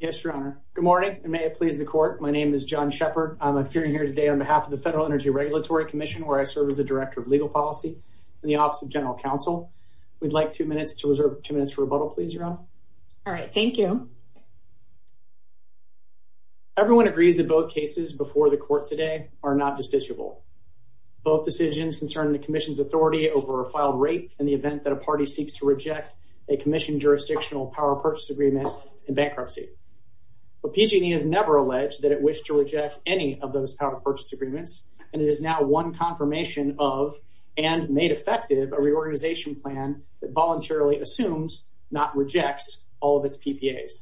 Yes, Your Honor. Good morning, and may it please the Court. My name is John Shepherd. I'm appearing here today on behalf of the Federal Energy Regulatory Commission, where I serve as the Director of Legal Policy in the Office of General Counsel. We'd like two minutes to reserve two minutes for rebuttal, please, Your Honor. All right. Thank you. Everyone agrees that both cases before the Court today are not justiciable. Both decisions concern the Commission's authority over a filed rape in the event that a party seeks to reject a Commission jurisdictional Power Purchase Agreement in bankruptcy. But PG&E has never alleged that it wished to reject any of those Power Purchase Agreements, and it is now one confirmation of, and made effective, a reorganization plan that voluntarily assumes, not rejects, all of its PPAs.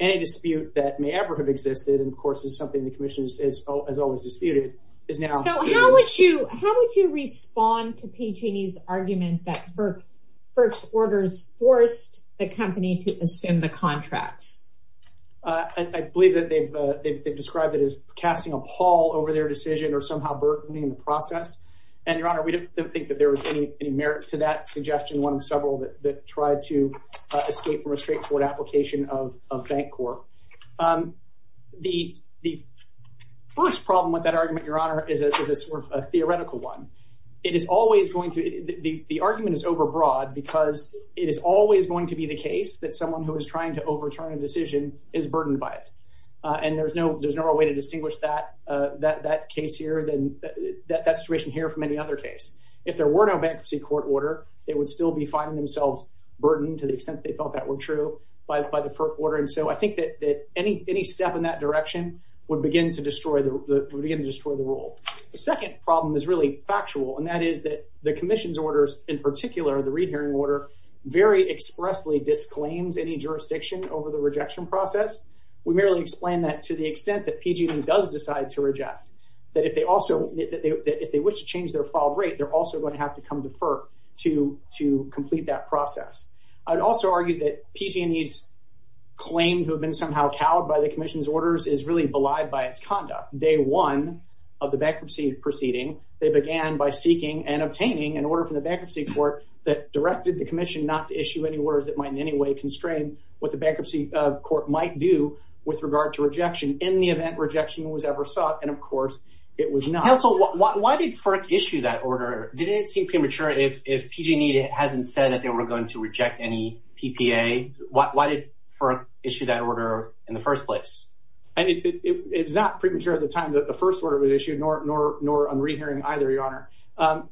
Any dispute that may ever have existed, and of course is something the Commission has always disputed, is now... So how would you respond to PG&E's argument that first orders forced the company to assume the contracts? I believe that they've described it as casting a pall over their decision, or somehow burdening the process. And, Your Honor, we don't think that there was any merit to that suggestion, one of several that tried to escape from a straightforward application of bank corps. The first problem with that argument, Your Honor, is a sort of theoretical one. It is always going to... The argument is overbroad because it is always going to be the case that someone who is trying to overturn a decision is burdened by it. And there's no real way to distinguish that situation here from any other case. If there were no bankruptcy court order, they would still be finding themselves burdened, to the extent they felt that were true, by the first order. And so I think that any step in that direction would begin to destroy the rule. The second problem is really factual, and that is that the Commission's orders, in particular, the Reed Hearing Order, very expressly disclaims any jurisdiction over the rejection process. We merely explain that to the extent that PG&E does decide to reject, that if they also... If they wish to change their filed rate, they're also going to have to come to FERC to complete that process. I would also argue that PG&E's claim to have been somehow cowed by the Commission's orders is really belied by its conduct. Day one of the bankruptcy proceeding, they began by seeking and obtaining an order from the bankruptcy court that directed the Commission not to issue any orders that might in any way constrain what the bankruptcy court might do with regard to rejection in the event rejection was ever sought. And of course, it was not. Counsel, why did FERC issue that order? Didn't it seem premature if PG&E hasn't said that they were going to reject any PPA? Why did FERC issue that order in the first place? It was not premature at the time that the first order was issued, nor on Reed Hearing either, Your Honor.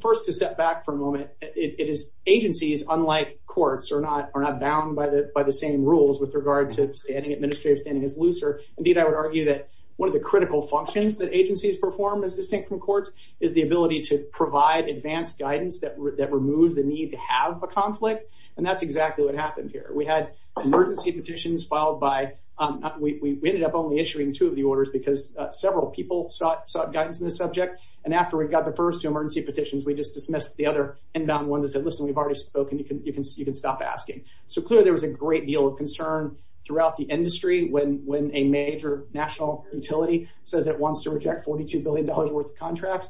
First, to step back for a moment, it is agencies, unlike courts, are not bound by the same rules with regard to standing administrative, standing as looser. Indeed, I would argue that one of the critical functions that agencies perform as distinct from courts is the ability to provide advanced guidance that removes the need to have a conflict, and that's exactly what happened here. We had emergency petitions filed by—we ended up only issuing two of the orders because several people sought guidance in the subject, and after we got the first two emergency petitions, we just dismissed the other inbound ones and said, listen, we've already spoken. You can stop asking. So clearly, there was a great deal of concern throughout the industry when a major national utility says it wants to reject $42 billion worth of contracts.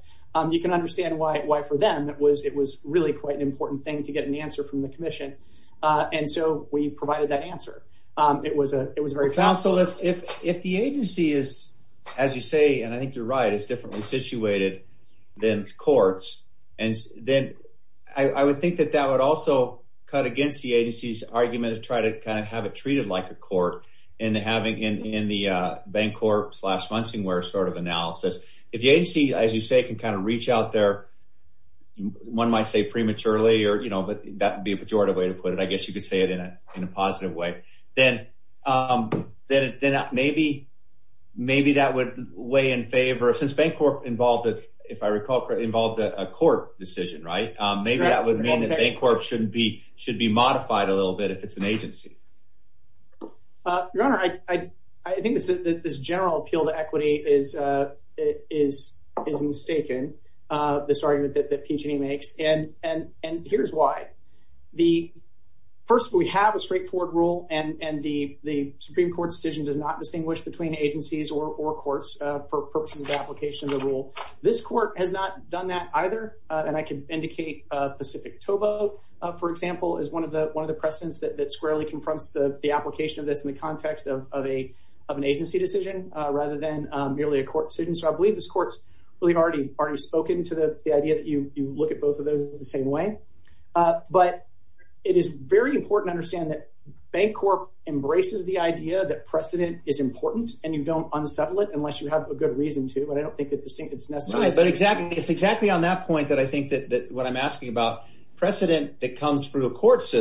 You can understand why for them it was really quite an important thing to get an answer from the Commission, and so we provided that answer. It was very fast. Counsel, if the agency is, as you say, and I think you're right, is differently situated than courts, then I would think that that would also cut against the agency's argument to try to agency, as you say, can kind of reach out there. One might say prematurely, but that would be a pejorative way to put it. I guess you could say it in a positive way. Then maybe that would weigh in favor—since Bancorp involved a court decision, maybe that would mean that Bancorp should be modified a little bit if it's an agency. Your Honor, I think this general appeal to equity is mistaken, this argument that PG&E makes, and here's why. First, we have a straightforward rule, and the Supreme Court's decision does not distinguish between agencies or courts for purposes of application of the rule. This court has not done that either, and I can indicate Pacific Tobo, for example, is one of the precedents that squarely confronts the application of this in the context of an agency decision rather than merely a court decision. So I believe this court's really already spoken to the idea that you look at both of those the same way, but it is very important to understand that Bancorp embraces the idea that precedent is important, and you don't unsettle it unless you have a good reason to, but I don't think that this thing is necessary. But it's exactly on that point that I think that what I'm asking about, precedent that process and courts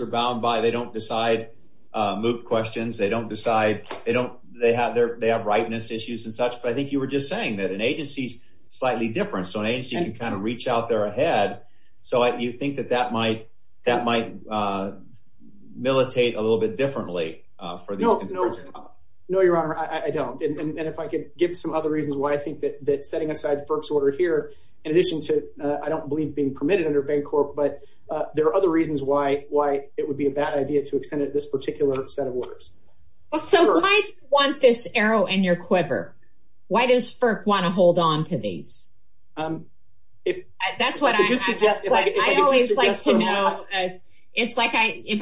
are bound by, they don't decide moot questions, they have rightness issues and such, but I think you were just saying that an agency's slightly different, so an agency can kind of reach out there ahead, so you think that that might militate a little bit differently? No, Your Honor, I don't, and if I could give some other reasons why I think that setting aside FERC's order here, in addition to I don't believe being permitted under Bancorp, but there are other reasons why it would be a bad idea to extend this particular set of orders. So why do you want this arrow in your quiver? Why does FERC want to hold on to these? If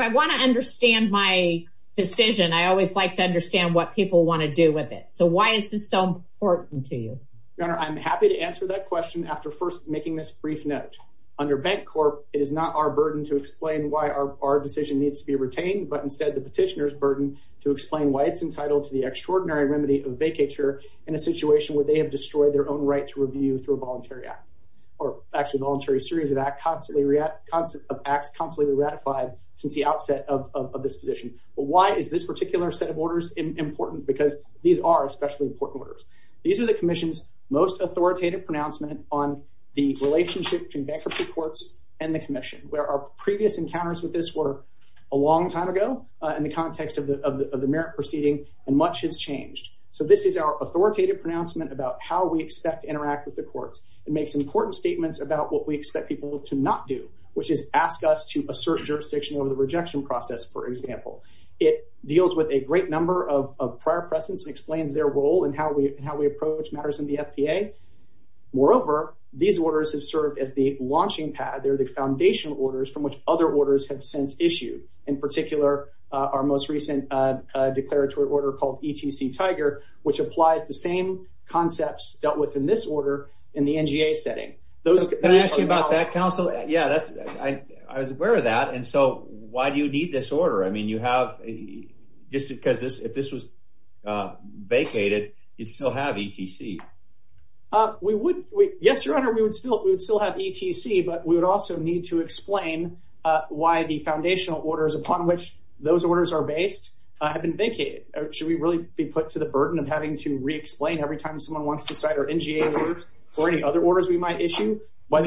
I want to understand my decision, I always like to understand what people want to do with it, so why is this so important to you? Your Honor, I'm happy to answer that question after first this brief note. Under Bancorp, it is not our burden to explain why our decision needs to be retained, but instead the petitioner's burden to explain why it's entitled to the extraordinary remedy of vacature in a situation where they have destroyed their own right to review through a voluntary act, or actually voluntary series of acts constantly ratified since the outset of this position. But why is this particular set of orders important? Because these are especially important These are the Commission's most authoritative pronouncement on the relationship between bankruptcy courts and the Commission, where our previous encounters with this were a long time ago in the context of the merit proceeding, and much has changed. So this is our authoritative pronouncement about how we expect to interact with the courts. It makes important statements about what we expect people to not do, which is ask us to assert jurisdiction over the rejection process, for example. It deals with a great number of prior precedents and explains their role and how we approach matters in the FPA. Moreover, these orders have served as the launching pad. They're the foundational orders from which other orders have since issued. In particular, our most recent declaratory order called ETC Tiger, which applies the same concepts dealt with in this order in the NGA setting. Can I ask you about that, counsel? Yeah, I was aware of that. And so you'd still have ETC? Yes, Your Honor, we would still have ETC, but we would also need to explain why the foundational orders upon which those orders are based have been vacated. Should we really be put to the burden of having to re-explain every time someone wants to cite our NGA orders or any other orders we might issue? I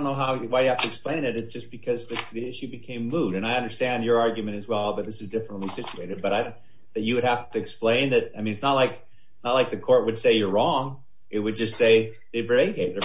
don't know why you have to explain it. It's just because the issue became moot. And I understand your argument as well, but this is differently situated. But you would have to explain that. I mean, it's not like the court would say you're wrong. It would just say they've vacated.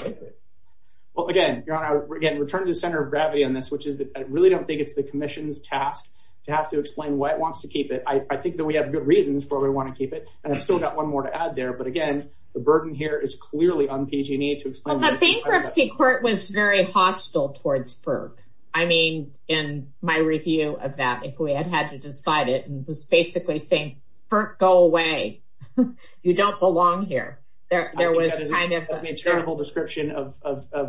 Well, again, Your Honor, we're getting returned to the center of gravity on this, which is that I really don't think it's the commission's task to have to explain why it wants to keep it. I think that we have good reasons where we want to keep it. And I've still got one more to add there. But again, the burden here is clearly on PG&E to explain. The bankruptcy court was very hostile towards Burke. I mean, in my review of that, if we had to decide it, it was basically saying, Burke, go away. You don't belong here. There was kind of a terrible description of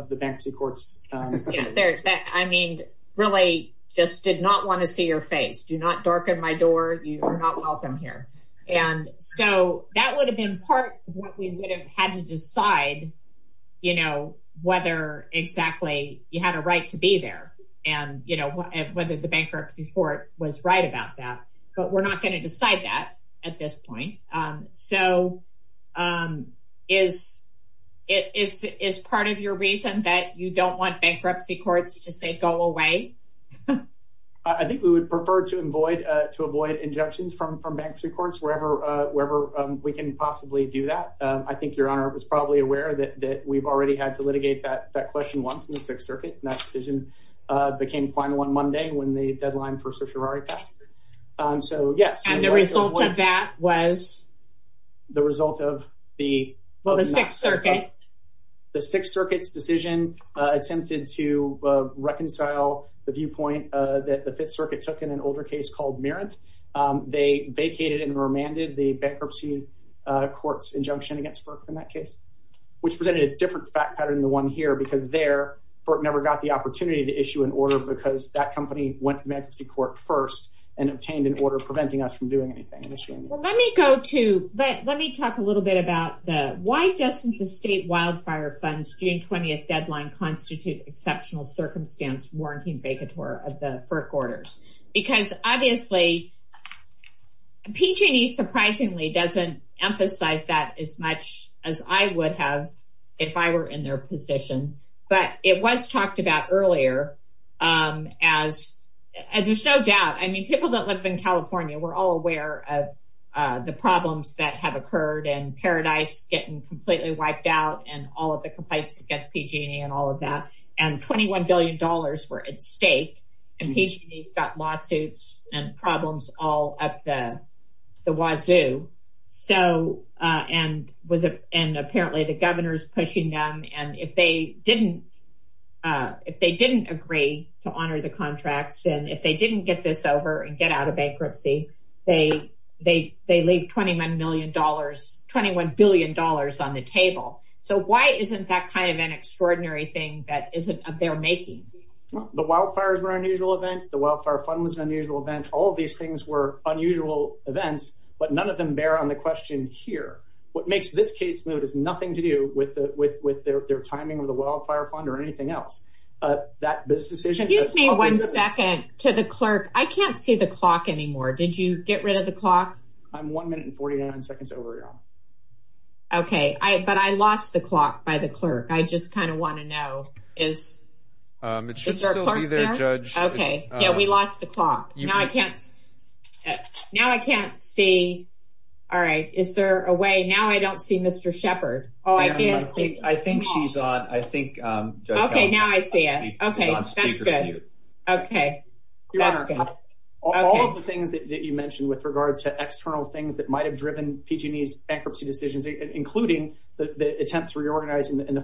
the bankruptcy courts. I mean, really just did not want to see your face. Do not darken my door. You are not welcome here. And so that would have been part of what we would have had to decide, you know, whether exactly you had a right to be there. And, you know, whether the bankruptcy court was right about that. But we're not going to decide that at this point. So is it is is part of your reason that you don't want bankruptcy courts to say go away? I think we would prefer to avoid to avoid injunctions from from bankruptcy courts wherever wherever we can possibly do that. I think Your Honor was probably aware that that we've already had to litigate that question once in the Sixth Circuit. And that decision became final on Monday when the deadline for certiorari passed. So yes. And the result of that was? The result of the Sixth Circuit. The Sixth Circuit's decision attempted to reconcile the viewpoint that the Fifth Circuit took in an older case called Merritt. They vacated and remanded the bankruptcy court's injunction against FERC in that case, which presented a different fact pattern than the one here because there FERC never got the opportunity to issue an order because that company went to bankruptcy court first and obtained an order preventing us from doing anything. Let me go to but let me talk a little bit about the why doesn't the state wildfire funds June 20th deadline constitute exceptional circumstance warranty and vacatur of the FERC orders? Because obviously PG&E surprisingly doesn't emphasize that as much as I would have if I were in their position. But it was talked about earlier as there's no doubt I mean people that live in California we're all aware of the problems that have occurred and Paradise getting completely wiped out and all of the complaints against PG&E and all of that and 21 billion dollars were at lawsuits and problems all up the the wazoo. So and was it and apparently the governor's pushing them and if they didn't if they didn't agree to honor the contracts and if they didn't get this over and get out of bankruptcy they they they leave 21 million dollars 21 billion dollars on the table. So why isn't that kind of an extraordinary thing that isn't of their making? The wildfires were unusual event the wildfire fund was an unusual event all these things were unusual events but none of them bear on the question here. What makes this case move is nothing to do with the with with their their timing of the wildfire fund or anything else. That business decision. Excuse me one second to the clerk I can't see the clock anymore did you get rid of the clock? I'm one minute and 49 seconds over y'all. Okay I but I lost the clock by the judge. Okay yeah we lost the clock now I can't now I can't see all right is there a way now I don't see Mr. Shepard. Oh I guess I think she's on I think um okay now I see it okay that's good okay your honor all of the things that you mentioned with regard to external things that might have driven PG&E's bankruptcy decisions including the attempts reorganizing in the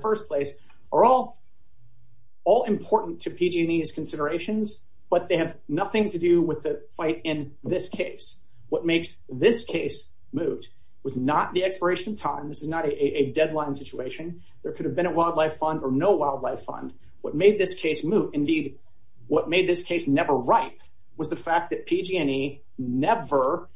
PG&E's considerations but they have nothing to do with the fight in this case. What makes this case moot was not the expiration time this is not a deadline situation there could have been a wildlife fund or no wildlife fund what made this case moot indeed what made this case never ripe was the fact that PG&E never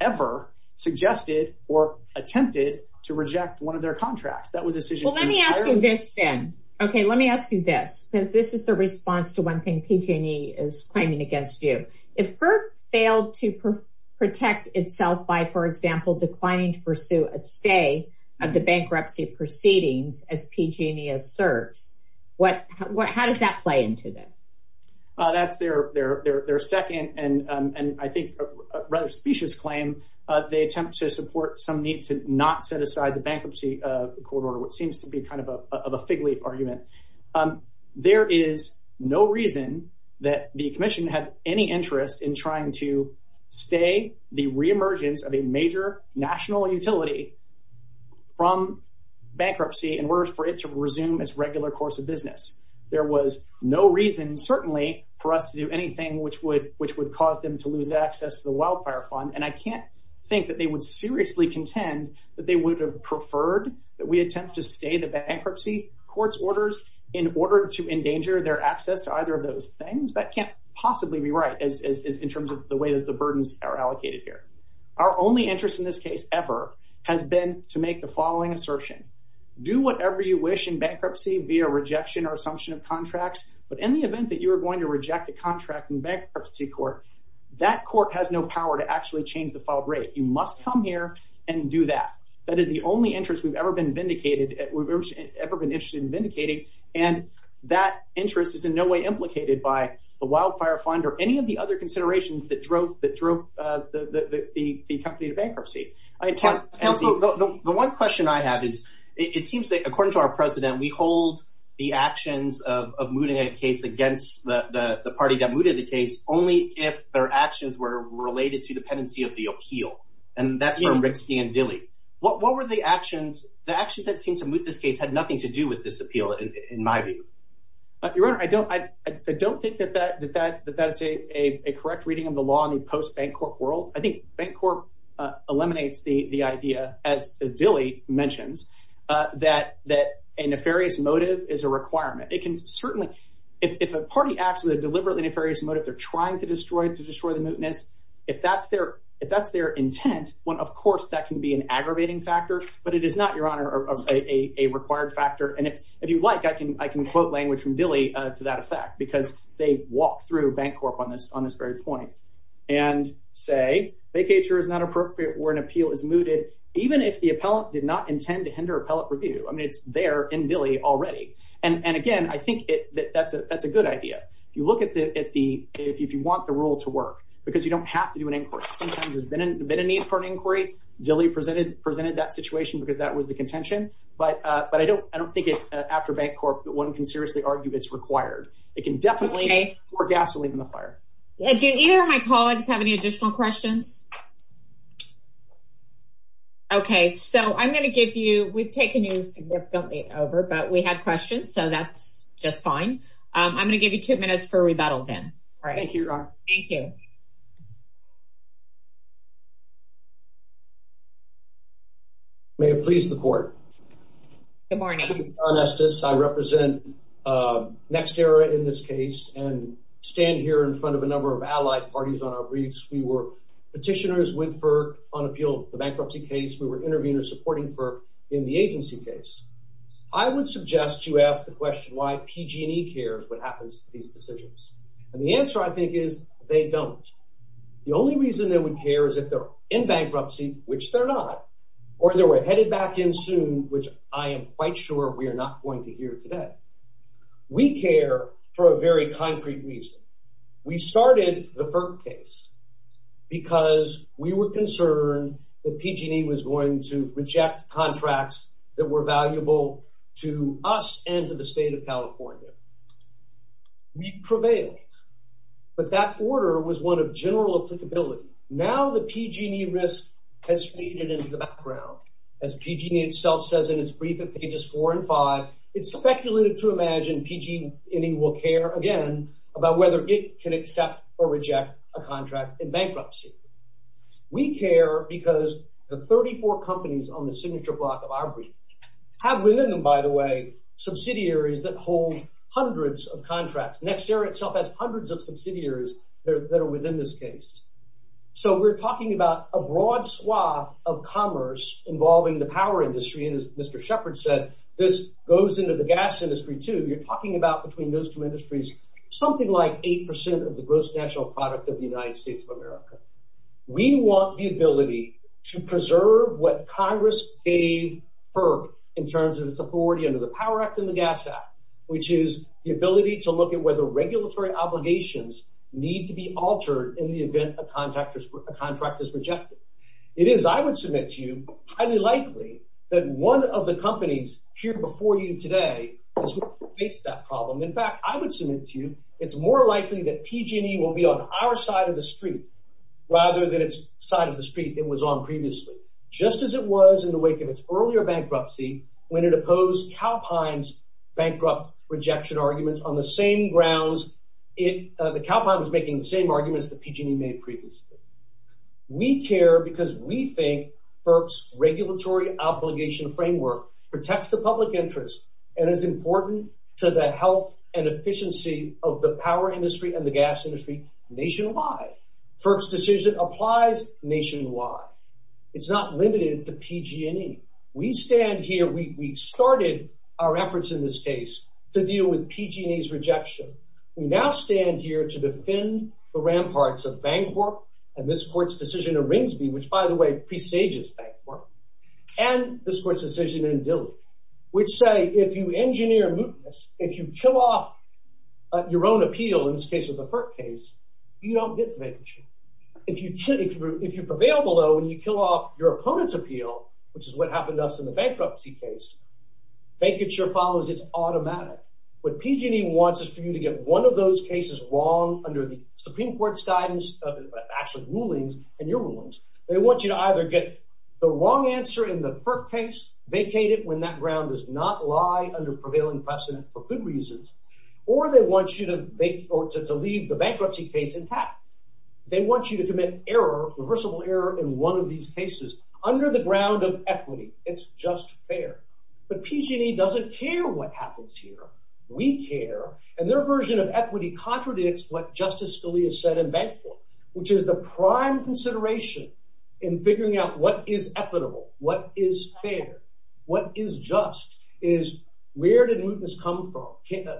ever suggested or attempted to reject one of their contracts that well let me ask you this then okay let me ask you this because this is the response to one thing PG&E is claiming against you if FERC failed to protect itself by for example declining to pursue a stay of the bankruptcy proceedings as PG&E asserts what what how does that play into this? Uh that's their their their second and um and I think a rather specious claim uh they attempt to support some need to not set aside the bankruptcy of the court order which seems to be kind of a of a fig leaf argument um there is no reason that the commission had any interest in trying to stay the re-emergence of a major national utility from bankruptcy in order for it to resume its regular course of business there was no reason certainly for us to do anything which would which would seriously contend that they would have preferred that we attempt to stay the bankruptcy court's orders in order to endanger their access to either of those things that can't possibly be right as in terms of the way that the burdens are allocated here our only interest in this case ever has been to make the following assertion do whatever you wish in bankruptcy via rejection or assumption of contracts but in the event that you are going to reject a contract in bankruptcy court that court has no power to actually change the filed rate you must come here and do that that is the only interest we've ever been vindicated we've ever been interested in vindicating and that interest is in no way implicated by the wildfire fund or any of the other considerations that drove that drove uh the the the company to bankruptcy. Council the one question I have is it seems that according to our president we hold the actions of of mooting a case against the the party that mooted the case only if their actions were related to dependency of the appeal and that's for Rixkey and Dilley what what were the actions the action that seemed to move this case had nothing to do with this appeal in my view? Your honor I don't I don't think that that that that that's a a correct reading of the law in the post-bank corp world I think bank corp eliminates the the idea as as Dilley mentions uh that that a nefarious motive is a requirement it can certainly if a party acts with a deliberately nefarious motive they're trying to destroy to destroy the mootness if that's their if that's their intent one of course that can be an aggravating factor but it is not your honor of a a required factor and if if you like I can I can quote language from Dilley uh to that effect because they walk through bank corp on this on this very point and say vacature is not appropriate where an appeal is mooted even if the appellant did not it that that's a that's a good idea if you look at the at the if you want the rule to work because you don't have to do an inquiry sometimes there's been a need for an inquiry Dilley presented presented that situation because that was the contention but uh but I don't I don't think it after bank corp one can seriously argue it's required it can definitely pour gasoline in the fire. Did either of my colleagues have any additional questions? Okay so I'm going to I'm going to give you two minutes for rebuttal then all right thank you thank you. May it please the court. Good morning. John Estes I represent uh NextEra in this case and stand here in front of a number of allied parties on our briefs we were petitioners with FERC on appeal the bankruptcy case we were interviewing or supporting FERC in the agency case. I would suggest you ask the question why PG&E cares what happens to these decisions and the answer I think is they don't. The only reason they would care is if they're in bankruptcy which they're not or they were headed back in soon which I am quite sure we are not going to hear today. We care for a very concrete reason. We started the FERC case because we were concerned that PG&E was going to reject contracts that were valuable to us and to the state of California. We prevailed but that order was one of general applicability. Now the PG&E risk has faded into the background as PG&E itself says in its brief at pages four and five it's speculated to imagine PG&E will care again about whether it can accept or reject a contract in bankruptcy. We care because the 34 companies on the signature block of our brief have within them by the way subsidiaries that hold hundreds of contracts. NextEra itself has hundreds of subsidiaries that are within this case. So we're talking about a broad swath of commerce involving the power industry and as Mr. Shepard said this goes into the gas industry too. You're talking about between those two industries something like eight percent of the gross national product of the United States of America. We want the ability to preserve what Congress gave FERC in terms of its authority under the Power Act and the Gas Act which is the ability to look at whether regulatory obligations need to be altered in the event a contract is rejected. It is I would submit to you highly likely that one of the companies here before you today has faced that problem. In fact I would submit to you it's more likely that PG&E will be on our side of the street rather than its side of the street it was on previously. Just as it was in the wake of its earlier bankruptcy when it opposed Calpine's bankrupt rejection arguments on the same grounds it the Calpine was making the same arguments that PG&E made previously. We care because we think FERC's regulatory obligation framework protects the public interest and is important to the health and efficiency of the power industry and the gas industry nationwide. FERC's decision applies nationwide. It's not limited to PG&E. We stand here we started our efforts in this case to deal with PG&E's rejection. We now stand here to defend the ramparts of Bancorp and this court's decision in Ringsby which by the way presages Bancorp and this court's decision in Dilley which say if you engineer mootness if you kill off your own appeal in this case of the FERC case you don't get the vacancy. If you prevail below and you kill off your opponent's appeal which is what happened to us in the bankruptcy case vacancy follows it's automatic. What PG&E wants is for you to get one of those cases wrong under Supreme Court's guidance of actual rulings and your rulings. They want you to either get the wrong answer in the FERC case vacate it when that ground does not lie under prevailing precedent for good reasons or they want you to leave the bankruptcy case intact. They want you to commit error reversible error in one of these cases under the ground of equity. It's just fair but PG&E doesn't care what happens here. We care and their version of equity contradicts what Justice Scalia said in Bancorp which is the prime consideration in figuring out what is equitable what is fair what is just is where did mootness come from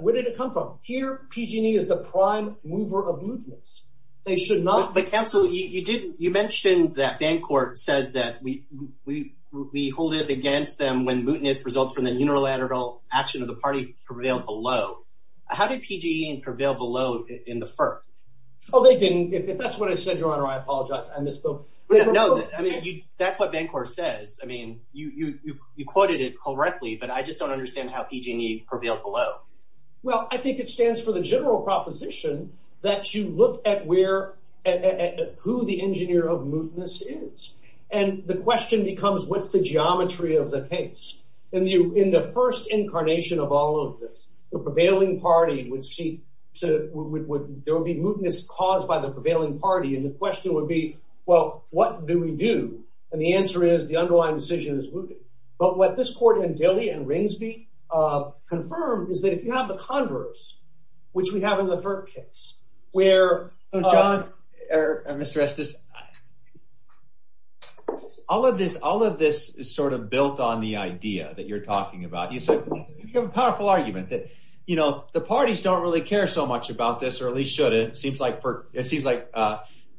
where did it come from here PG&E is the prime mover of mootness. They should not but counsel you didn't you mentioned that Bancorp says that we we we hold it against them when mootness results from the unilateral action of the party prevail below. How did PG&E prevail below in the FERC? Oh they didn't if that's what I said your honor I apologize I misspoke. No I mean you that's what Bancorp says I mean you you you quoted it correctly but I just don't understand how PG&E prevailed below. Well I think it stands for the general proposition that you look at where at who the engineer of mootness is and the question becomes what's the geometry of the case and you in the first incarnation of all of this the prevailing party would see so there would be mootness caused by the prevailing party and the question would be well what do we do and the answer is the underlying decision is mooted but what this court in Dilley and Ringsby confirmed is that if you have the converse which we have in the FERC where John or Mr. Estes all of this all of this is sort of built on the idea that you're talking about you said a powerful argument that you know the parties don't really care so much about this or at least should it seems like for it seems like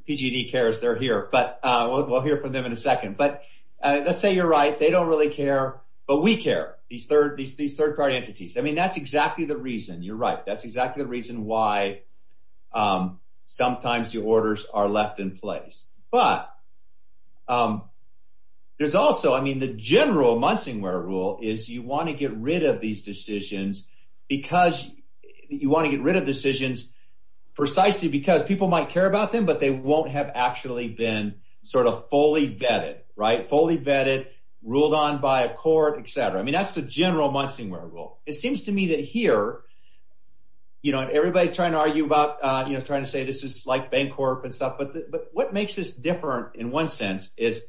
PG&E cares they're here but we'll hear from them in a second but let's say you're right they don't really care but we care these third these third party entities I mean that's exactly the reason you're right that's exactly the reason why sometimes your orders are left in place but there's also I mean the general Munsingware rule is you want to get rid of these decisions because you want to get rid of decisions precisely because people might care about them but they won't have actually been sort of fully vetted right fully vetted ruled on by a court etc I mean that's the general Munsingware rule it seems to me that here you know everybody's trying to argue about you know trying to say this is like bank corp and stuff but but what makes this different in one sense is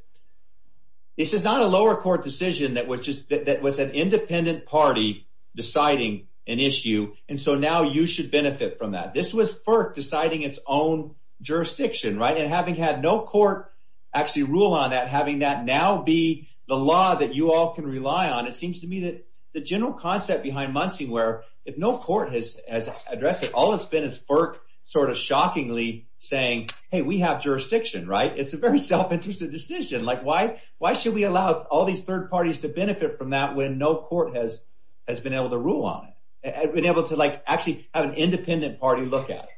this is not a lower court decision that was just that was an independent party deciding an issue and so now you should benefit from that this was FERC deciding its own jurisdiction right and having had no court actually rule on that having that now be the law that you all can rely on it seems to me that the general concept behind Munsingware if no court has addressed it all it's been is FERC sort of shockingly saying hey we have jurisdiction right it's a very self-interested decision like why why should we allow all these third parties to benefit from that when no court has has been able to rule on it I've been able to like actually have an independent party look at it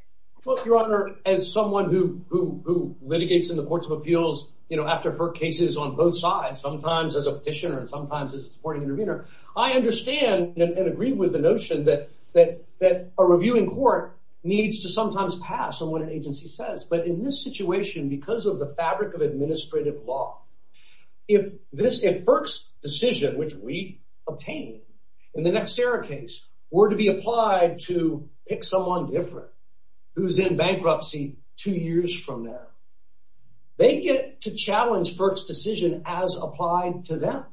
well your honor as someone who who litigates in the courts of appeals you know after FERC cases on both sides sometimes as a petitioner and sometimes as a supporting intervener I understand and agree with the notion that that that a reviewing court needs to sometimes pass on what an agency says but in this situation because of the fabric of administrative law if this if FERC's decision which we obtained in the next era case were to be applied to pick someone different who's in bankruptcy two years from now they get to challenge FERC's decision as applied to them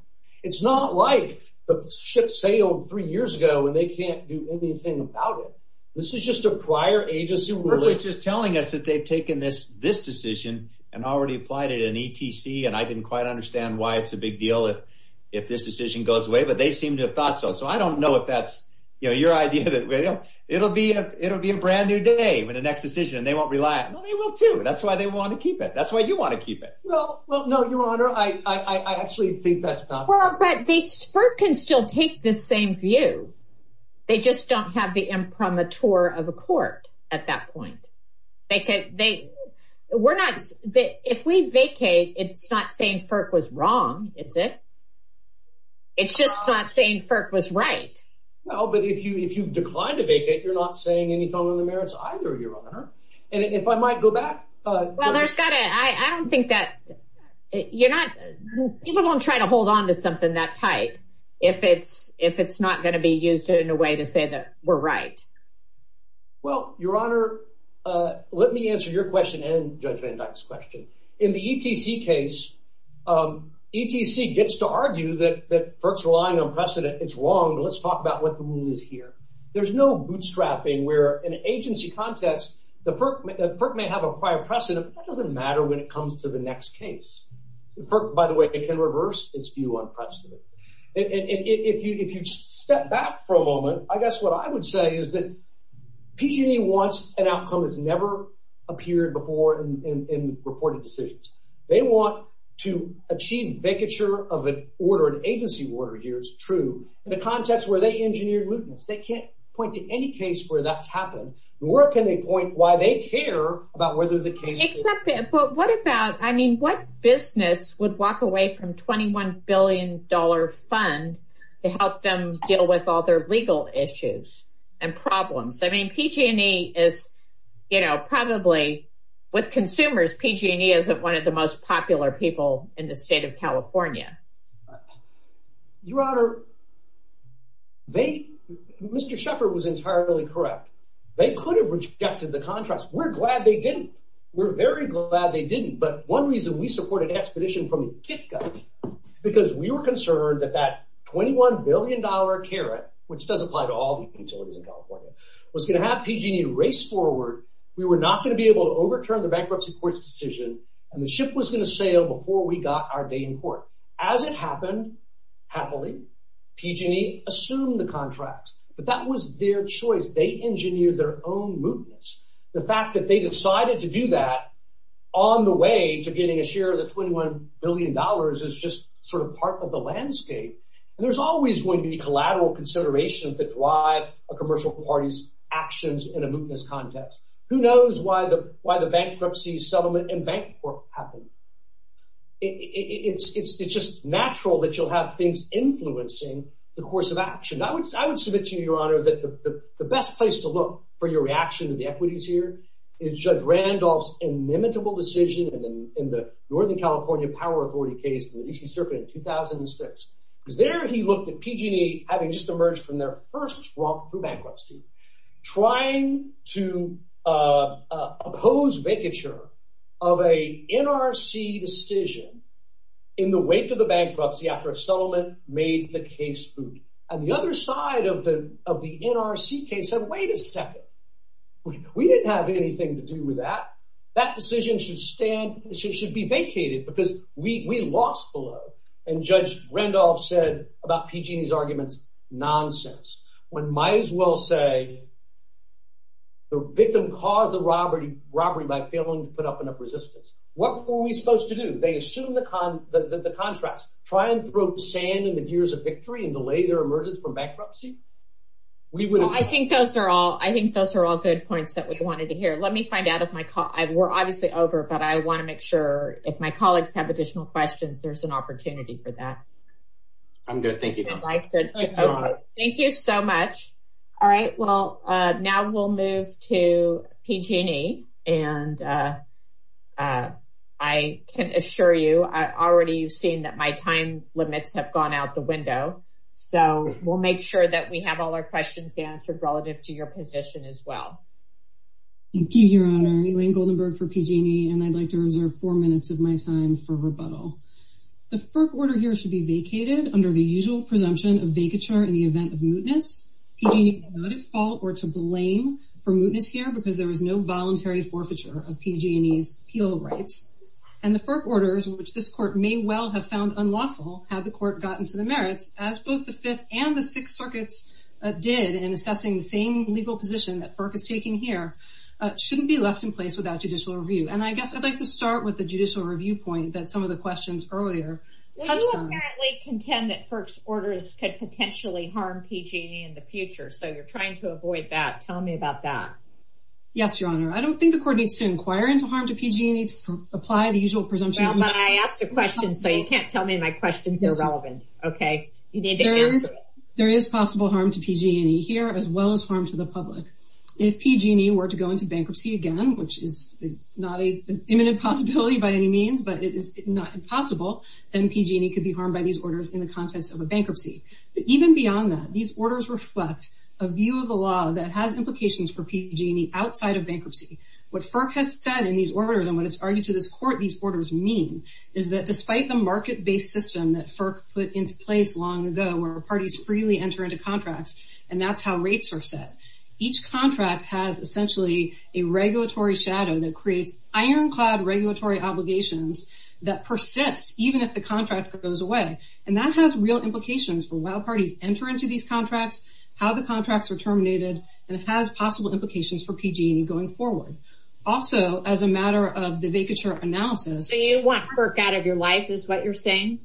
it's not like the ship sailed three years ago and they can't do anything about it this is just a prior agency which is telling us that they've taken this this decision and already applied it in ETC and I didn't quite understand why it's a big deal if if this decision goes away but they seem to have thought so so I don't know if that's your idea that you know it'll be a it'll be a brand new day with the next decision and they won't rely on it they will too that's why they want to keep it that's why you want to keep it well well no your honor I I actually think that's not well but this FERC can still take the same view they just don't have the imprimatur of a court at that point they could they we're not that if we vacate it's not saying FERC was wrong is it it's just not saying FERC was right well but if you if you've declined to vacate you're not saying anything on the merits either your honor and if I might go back uh well there's gotta I I don't think that you're not people won't try to hold on to something that tight if it's if it's not going to be used in a way to say that we're right well your honor uh let me answer your question and Judge Van Dyke's in the ETC case um ETC gets to argue that that FERC's relying on precedent it's wrong but let's talk about what the rule is here there's no bootstrapping where an agency context the FERC FERC may have a prior precedent that doesn't matter when it comes to the next case the FERC by the way it can reverse its view on precedent and if you if you just step back for a moment I guess what I would say is that PG&E wants an outcome has never appeared before in in reported decisions they want to achieve vacature of an order an agency order here is true in the context where they engineered looting they can't point to any case where that's happened nor can they point why they care about whether the case except but what about I mean what business would away from 21 billion dollar fund to help them deal with all their legal issues and problems I mean PG&E is you know probably with consumers PG&E isn't one of the most popular people in the state of California your honor they Mr. Shepherd was entirely correct they could have rejected the contrast we're glad they didn't we're very glad they didn't but one reason we supported expedition from the get-go because we were concerned that that 21 billion dollar carrot which does apply to all the utilities in California was going to have PG&E race forward we were not going to be able to overturn the bankruptcy court's decision and the ship was going to sail before we got our day in court as it happened happily PG&E assumed the contract but that was their choice they engineered their own movements the fact that they decided to do that on the way to getting a share of the 21 billion dollars is just sort of part of the landscape and there's always going to be collateral considerations that drive a commercial party's actions in a mootness context who knows why the why the bankruptcy settlement and bank work happened it's it's it's just natural that you'll have things influencing the course of action I would I would submit to you your honor that the the best place to look for your reaction to the equities here is judge Randolph's inimitable decision and then in the northern California Power 40 case the DC circuit in 2006 because there he looked at PG&E having just emerged from their first walk through bankruptcy trying to oppose vacature of a NRC decision in the wake of the bankruptcy after a settlement made the case and the other side of the of the NRC case said wait a second we didn't have anything to do with that that decision should stand it should be vacated because we we lost below and judge Randolph said about PG&E's arguments nonsense one might as well say the victim caused the robbery robbery by failing to put up enough resistance what were we supposed to do they assume the con the contrast try and throw sand in the gears of victory and delay their emergence from bankruptcy we would I think those are all I think those are all good points that we wanted to hear let me find out if my we're obviously over but I want to make sure if my colleagues have additional questions there's an opportunity for that I'm good thank you thank you so much all right well uh now we'll move to PG&E and uh uh I can assure you I already you've seen that my time limits have gone out the window so we'll make sure that we have all our questions answered relative to your position as well thank you your honor Elaine Goldenberg for PG&E and I'd like to reserve four minutes of my time for rebuttal the FERC order here should be vacated under the usual presumption of vacature in the event of mootness PG&E had no fault or to blame for mootness here because there was no voluntary forfeiture of PG&E's appeal rights and the FERC orders which this court may well have found unlawful had the court gotten to the merits as both the fifth and the sixth circuits did in assessing the same legal position that FERC is taking here uh shouldn't be left in place without judicial review and I guess I'd like to start with the judicial review point that some of the questions earlier touched on apparently contend that first orders could potentially harm PG&E in the future so you're trying to avoid that tell me about that yes your honor I don't think the court needs to inquire into harm to PG&E to apply the usual presumption but I asked a question so you can't tell me my questions are relevant okay there is there is possible harm to PG&E here as well as harm to the public if PG&E were to go into bankruptcy again which is not a imminent possibility by any means but it is not impossible then PG&E could be harmed by these orders in the context of a bankruptcy but even beyond that these orders reflect a view of the law that has implications for PG&E outside of bankruptcy what FERC has said in these orders and what it's argued to this court these orders mean is that despite the market-based system that FERC put into place long ago where parties freely enter into contracts and that's how rates are set each contract has essentially a regulatory shadow that creates ironclad regulatory obligations that persist even if the contract goes away and that has real implications for while parties enter into these contracts how the contracts are terminated and has possible implications for PG&E going forward also as a matter of the vacature analysis so you want FERC out of your life is what you're saying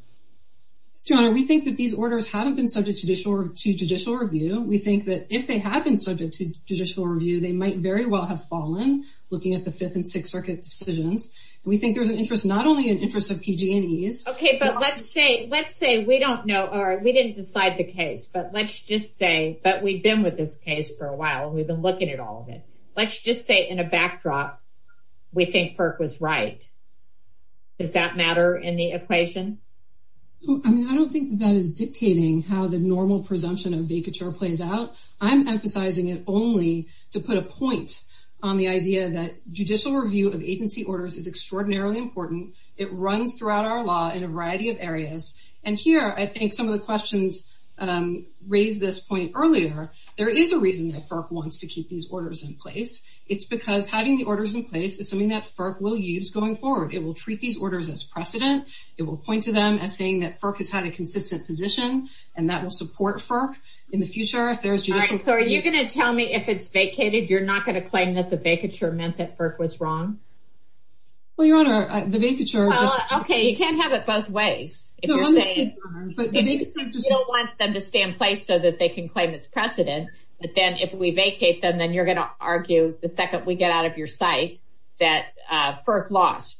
your honor we think that these orders haven't been subject to judicial review we think that if they have been subject to judicial review they might very well have fallen looking at the fifth and sixth circuit decisions we think there's an interest not only in interest of PG&E's okay but let's say let's say we don't know or we didn't decide the case but let's just say that we've been with this case for a while we've been looking at all of it let's just say in a backdrop we think FERC was right does that matter in the equation i mean i don't think that is dictating how the normal presumption of vacature plays out i'm emphasizing it only to put a point on the idea that judicial review of agency orders is extraordinarily important it runs throughout our law in a variety of areas and here i think some of the questions raised this point earlier there is a reason that FERC wants to keep these orders in place it's because having the orders in place is something that FERC will use going forward it will treat these orders as precedent it will point to them as saying that FERC has had a consistent position and that will support FERC in the future if there's judicial so are you going to tell me if it's vacated you're not going to claim that the vacature meant that FERC was wrong well your honor the vacature okay you can't have it both ways you don't want them to stay in place so that they can claim it's precedent but then if we vacate them then you're going to argue the second we get out of your site that FERC lost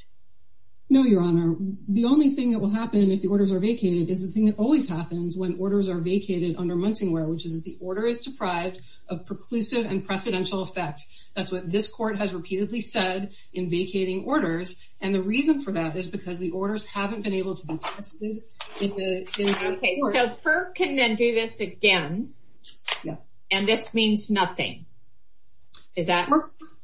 no your honor the only thing that will happen if the orders are vacated is the thing that always happens when orders are vacated under munsingwear which is that the order is deprived of preclusive and precedential effect that's what this court has repeatedly said in vacating orders and the reason for that is because the orders haven't been able to be tested okay so FERC can then do this again yeah and this means nothing is that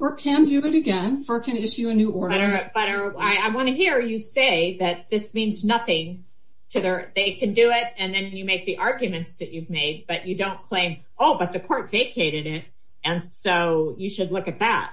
or can do it again FERC can issue a new order but i want to hear you say that this means nothing to their they can do it and then you make the arguments that you've made but you don't claim oh but the court vacated it and so you should look at that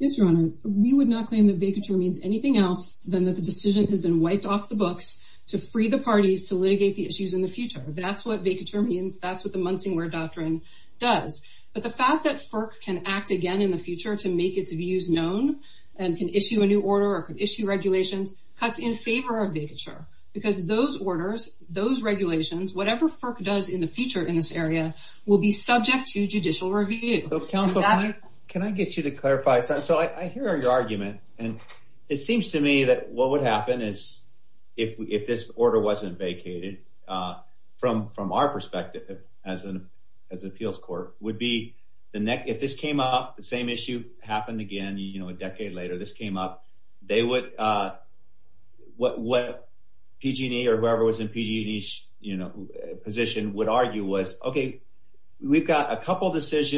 yes your honor we would not claim that vacature means anything else than that the decision has been wiped off the books to free the parties to litigate the issues in the future that's what vacature means that's what the munsingwear doctrine does but the fact that FERC can act again in the future to make its views known and can issue a new order or could issue regulations cuts in favor of vacature because those orders those regulations whatever FERC does in the future in this area will be subject to judicial review counsel can i get you to clarify so i hear your argument and it seems to me that what would happen is if we if this order wasn't vacated uh from from our perspective as an as appeals court would be the neck if this came up the same issue happened again you know a decade later this came up they would uh what what pg&e or whoever was in pg&e you know position would argue was okay we've got a six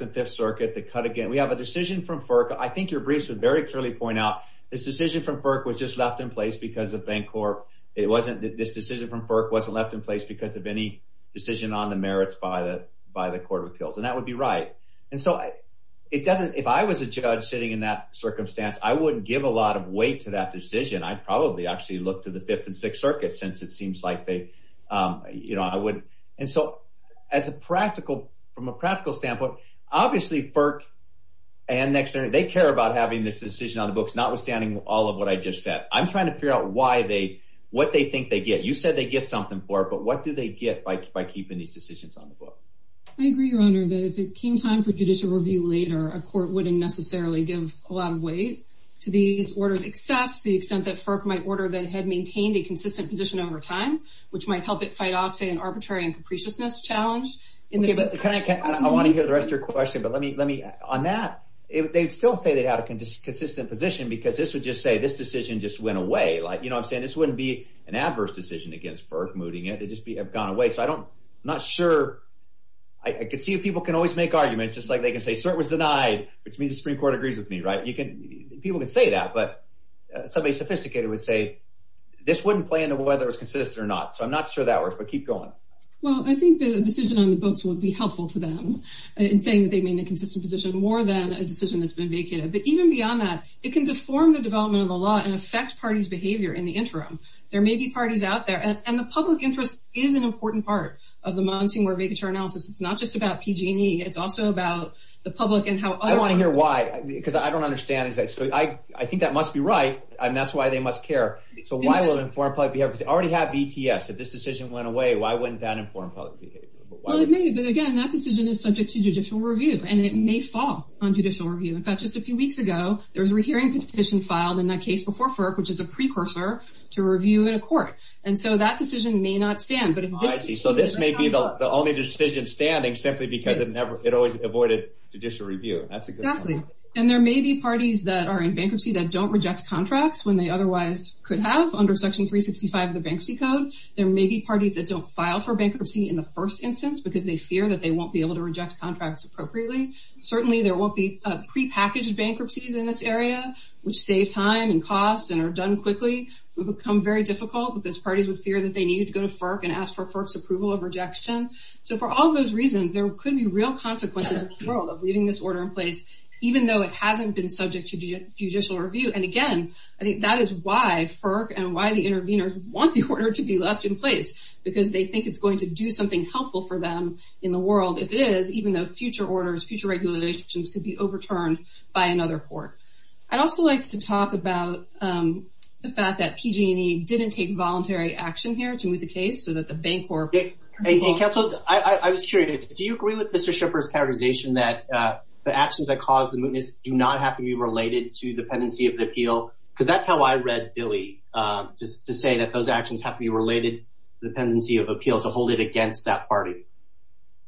and fifth circuit that cut again we have a decision from FERC i think your briefs would very clearly point out this decision from FERC was just left in place because of bank corp it wasn't this decision from FERC wasn't left in place because of any decision on the merits by the by the court of appeals and that would be right and so it doesn't if i was a judge sitting in that circumstance i wouldn't give a lot of weight to that decision i'd probably actually look to the fifth and sixth circuit since it seems like they um you know i would and so as a practical from a practical standpoint obviously FERC and next they care about having this decision on the books notwithstanding all of what i just said i'm trying to figure out why they what they think they get you said they get something for it but what do they get by by keeping these decisions on the book i agree your honor that if it came time for judicial review later a court wouldn't necessarily give a lot of weight to these orders except the extent that FERC might order that had maintained a consistent position over time which might help it fight off say an arbitrary and capriciousness in the kind of i want to hear the rest of your question but let me let me on that if they'd still say they'd have a consistent position because this would just say this decision just went away like you know i'm saying this wouldn't be an adverse decision against FERC moving it to just be have gone away so i don't i'm not sure i could see if people can always make arguments just like they can say so it was denied which means the supreme court agrees with me right you can people can say that but somebody sophisticated would say this wouldn't play into whether it's consistent or not so i'm not sure that works but keep going well i think the decision on the books would be helpful to them in saying that they mean a consistent position more than a decision that's been vacated but even beyond that it can deform the development of the law and affect parties behavior in the interim there may be parties out there and the public interest is an important part of the monsoon where vacature analysis it's not just about pg&e it's also about the public and how i want to hear why because i don't understand is that so i i think that must be right and that's why they must care so why will inform public behavior because they why wouldn't that inform public behavior well it may be again that decision is subject to judicial review and it may fall on judicial review in fact just a few weeks ago there was a rehearing petition filed in that case before FERC which is a precursor to review in a court and so that decision may not stand but if i see so this may be the only decision standing simply because it never it always avoided judicial review that's exactly and there may be parties that are in bankruptcy that don't reject contracts when they otherwise could have under section 365 of the parties that don't file for bankruptcy in the first instance because they fear that they won't be able to reject contracts appropriately certainly there won't be pre-packaged bankruptcies in this area which save time and costs and are done quickly would become very difficult because parties would fear that they needed to go to FERC and ask for FERC's approval of rejection so for all those reasons there could be real consequences in the world of leaving this order in place even though it hasn't been subject to judicial review and again i think that is why FERC and why the interveners want the order to be left in place because they think it's going to do something helpful for them in the world if it is even though future orders future regulations could be overturned by another court i'd also like to talk about um the fact that pg&e didn't take voluntary action here to move the case so that the bank or hey council i i was curious do you agree with mr shipper's characterization that uh the actions that cause the mootness do because that's how i read dilley um just to say that those actions have to be related the tendency of appeal to hold it against that party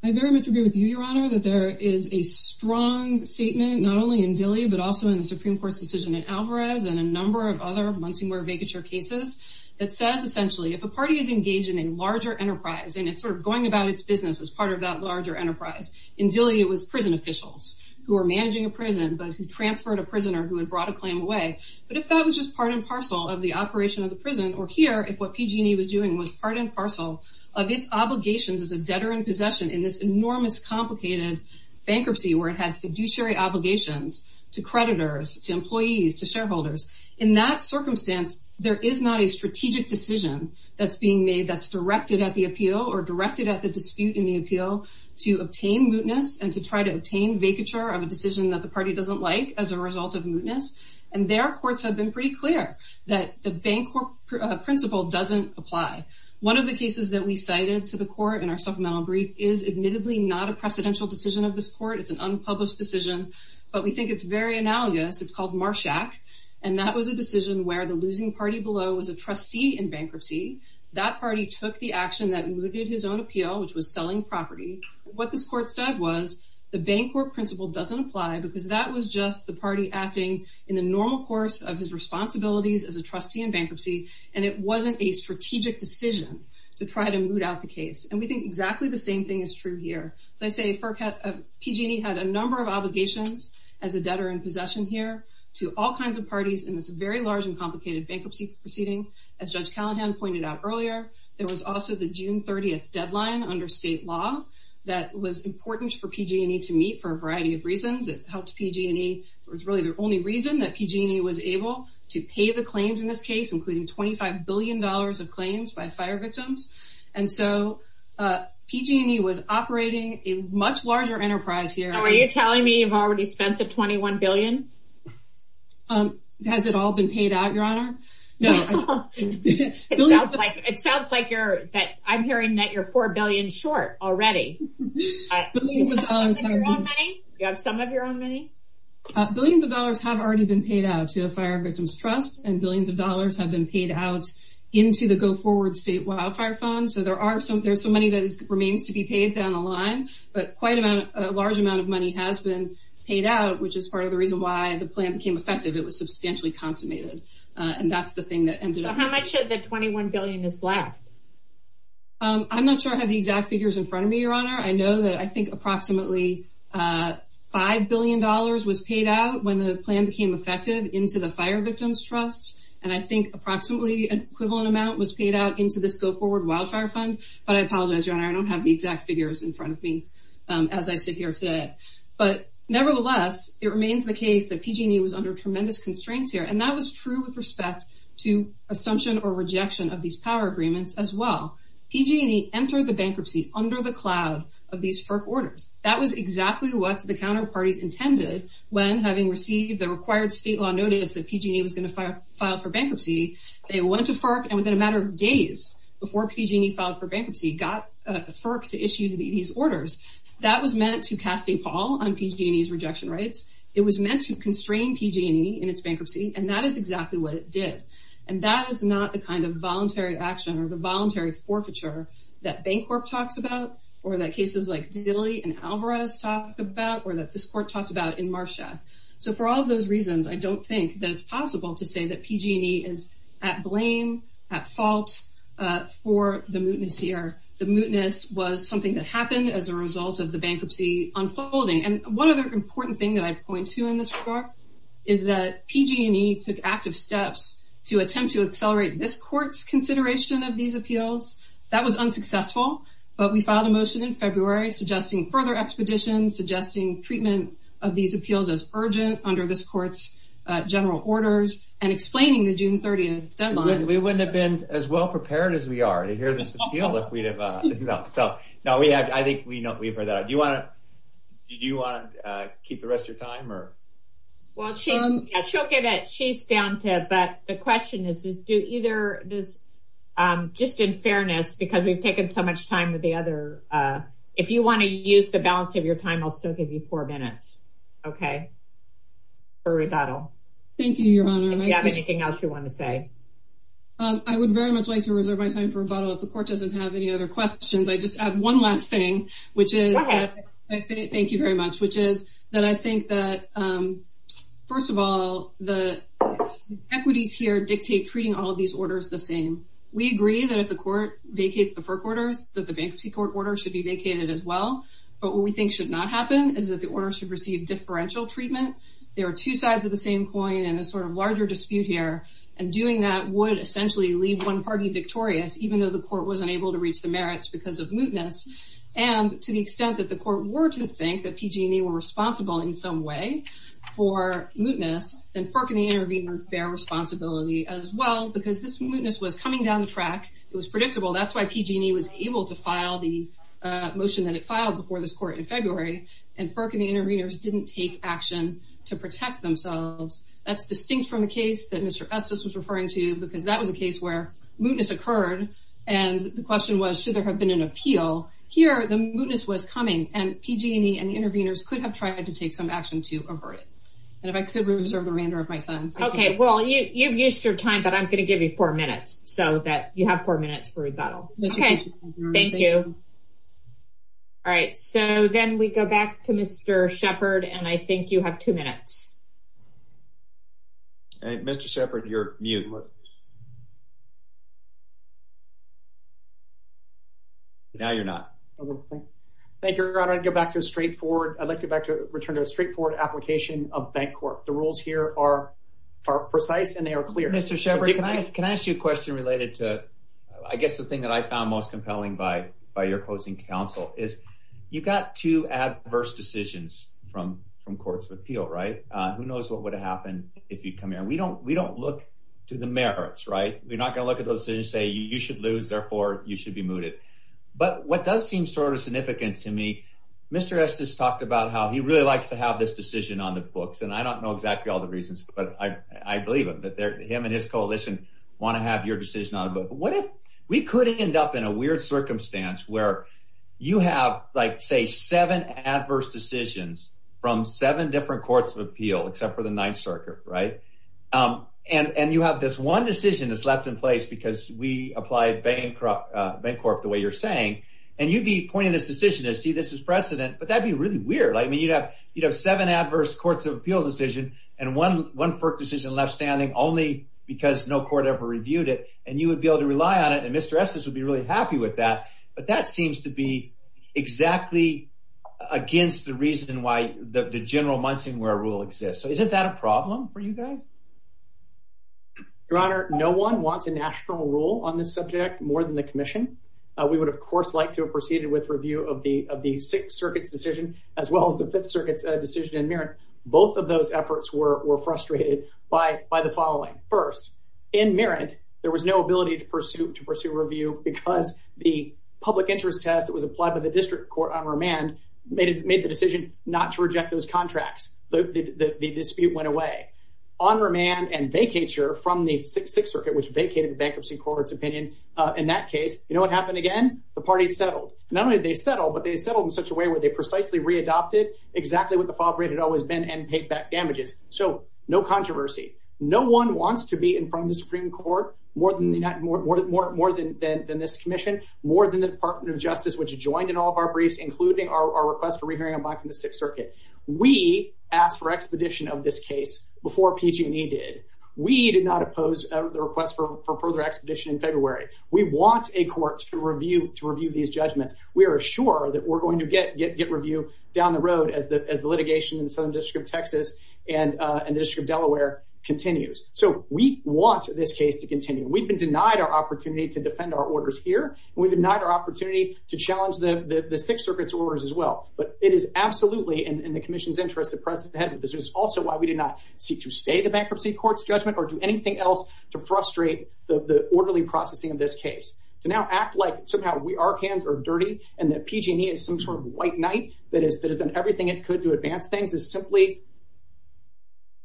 i very much agree with you your honor that there is a strong statement not only in dilley but also in the supreme court's decision in alvarez and a number of other muncie where vacature cases that says essentially if a party is engaged in a larger enterprise and it's sort of going about its business as part of that larger enterprise in dilley it was prison officials who are managing a prison but who transferred a prisoner who had a claim away but if that was just part and parcel of the operation of the prison or here if what pg&e was doing was part and parcel of its obligations as a debtor in possession in this enormous complicated bankruptcy where it had fiduciary obligations to creditors to employees to shareholders in that circumstance there is not a strategic decision that's being made that's directed at the appeal or directed at the dispute in the appeal to obtain mootness and to try to and their courts have been pretty clear that the bank principal doesn't apply one of the cases that we cited to the court in our supplemental brief is admittedly not a precedential decision of this court it's an unpublished decision but we think it's very analogous it's called marshak and that was a decision where the losing party below was a trustee in bankruptcy that party took the action that mooted his own appeal which was selling property what this court said was the bank or acting in the normal course of his responsibilities as a trustee in bankruptcy and it wasn't a strategic decision to try to moot out the case and we think exactly the same thing is true here as i say perk at pg&e had a number of obligations as a debtor in possession here to all kinds of parties in this very large and complicated bankruptcy proceeding as judge callahan pointed out earlier there was also the june 30th deadline under state law that was important for pg&e to for a variety of reasons it helped pg&e it was really the only reason that pg&e was able to pay the claims in this case including 25 billion dollars of claims by fire victims and so pg&e was operating a much larger enterprise here are you telling me you've already spent the 21 billion um has it all been paid out your honor no it sounds like it sounds like you're that i'm money you have some of your own money billions of dollars have already been paid out to a fire victims trust and billions of dollars have been paid out into the go forward state wildfire fund so there are some there's some money that remains to be paid down the line but quite about a large amount of money has been paid out which is part of the reason why the plan became effective it was substantially consummated and that's the thing that ended up how much of the 21 billion is left um i'm not sure i have the exact figures in front of me your honor i know that i think approximately uh five billion dollars was paid out when the plan became effective into the fire victims trust and i think approximately an equivalent amount was paid out into this go forward wildfire fund but i apologize your honor i don't have the exact figures in front of me as i sit here today but nevertheless it remains the case that pg&e was under tremendous constraints here and that was true with respect to assumption or rejection of these power agreements as well pg&e entered the bankruptcy under the cloud of these FERC orders that was exactly what the counterparties intended when having received the required state law notice that pg&e was going to file for bankruptcy they went to FERC and within a matter of days before pg&e filed for bankruptcy got FERC to issue these orders that was meant to cast a pall on pg&e's rejection rights it was meant to constrain pg&e in its bankruptcy and that is exactly what it did and that is not the kind of voluntary action or the voluntary forfeiture that bank corp talks about or that cases like diddly and alvarez talk about or that this court talked about in marsha so for all those reasons i don't think that it's possible to say that pg&e is at blame at fault uh for the mootness here the mootness was something that happened as a result of the bankruptcy unfolding and one other important thing that i point to in this regard is that pg&e took active steps to attempt to accelerate this court's consideration of these appeals that was unsuccessful but we filed a motion in february suggesting further expeditions suggesting treatment of these appeals as urgent under this court's general orders and explaining the june 30th deadline we wouldn't have been as well prepared as we are to hear this appeal if we'd have uh no so no we have i think we we've heard that do you want to do you want to uh keep the rest of your time or well she's she'll get it she's down to it but the question is do either this um just in fairness because we've taken so much time with the other uh if you want to use the balance of your time i'll still give you four minutes okay for rebuttal thank you your honor if you have anything else you want to say um i would very much like to reserve my time for rebuttal if the court doesn't have any other questions i just add one last thing which is thank you very much which is that i think that um first of all the equities here dictate treating all these orders the same we agree that if the court vacates the four quarters that the bankruptcy court order should be vacated as well but what we think should not happen is that the order should receive differential treatment there are two sides of the same coin and a sort of larger dispute here and doing that would essentially leave one party victorious even though the court was unable to reach the merits because of mootness and to the extent that the court were to think that pg&e were responsible in some way for mootness and firkin the interveners bear responsibility as well because this mootness was coming down the track it was predictable that's why pg&e was able to file the uh motion that it filed before this court in february and firkin the interveners didn't take action to protect themselves that's distinct from the case that mr estes was referring to because that was a case where mootness occurred and the question was should there have been an appeal here the mootness was coming and pg&e and the interveners could have tried to take some action to avert it and if i could reserve the remainder of my time okay well you you've used your time but i'm going to give you four minutes so that you have four minutes for rebuttal okay thank you all right so then we go back to mr shepherd and i think you have two minutes and mr shepherd you're mute now you're not thank you i'm going to go back to a straightforward i'd like to go back to return to a straightforward application of bank corp the rules here are are precise and they are clear mr shepherd can i can i ask you a question related to i guess the thing that i found most compelling by by your closing counsel is you've got two adverse decisions from from courts of who knows what would happen if you come here we don't we don't look to the merits right you're not going to look at those decisions say you should lose therefore you should be mooted but what does seem sort of significant to me mr estes talked about how he really likes to have this decision on the books and i don't know exactly all the reasons but i i believe him that they're him and his coalition want to have your decision on what if we could end up in a weird circumstance where you have like say seven adverse decisions from seven different courts of appeal except for the ninth circuit right um and and you have this one decision that's left in place because we applied bankrupt uh bank corp the way you're saying and you'd be pointing this decision to see this as precedent but that'd be really weird i mean you'd have you'd have seven adverse courts of appeals decision and one one first decision left standing only because no court ever reviewed it and you would be able to rely on it and mr estes would be really happy with that but that seems to be exactly against the reason why the general munson where a rule exists so isn't that a problem for you guys your honor no one wants a national rule on this subject more than the commission uh we would of course like to have proceeded with review of the of the sixth circuit's decision as well as the fifth circuit's decision in merit both of those efforts were were frustrated by by the following first in merit there was no ability to pursue to pursue review because the public interest test that was applied by the district court on remand made it made the decision not to reject those contracts the the dispute went away on remand and vacature from the six circuit which vacated the bankruptcy court's opinion uh in that case you know what happened again the party settled not only did they settle but they settled in such a way where they precisely re-adopted exactly what the fault rate had always been and paid back damages so no controversy no one wants to be in front of the supreme court more than the united more more more more than than this commission more than the department of justice which joined in all of our briefs including our request for re-hearing a black in the sixth circuit we asked for expedition of this case before pg&e did we did not oppose the request for further expedition in february we want a court to review to review these judgments we are sure that we're going to get get get review down the road as the as the litigation in the southern district of texas and uh and the district of delaware continues so we want this case to continue we've been denied our opportunity to defend our orders here we've denied our opportunity to challenge the the six circuits orders as well but it is absolutely in the commission's interest to press ahead with this is also why we did not seek to stay the bankruptcy court's judgment or do anything else to frustrate the the orderly like somehow we our hands are dirty and that pg&e is some sort of white knight that has done everything it could to advance things is simply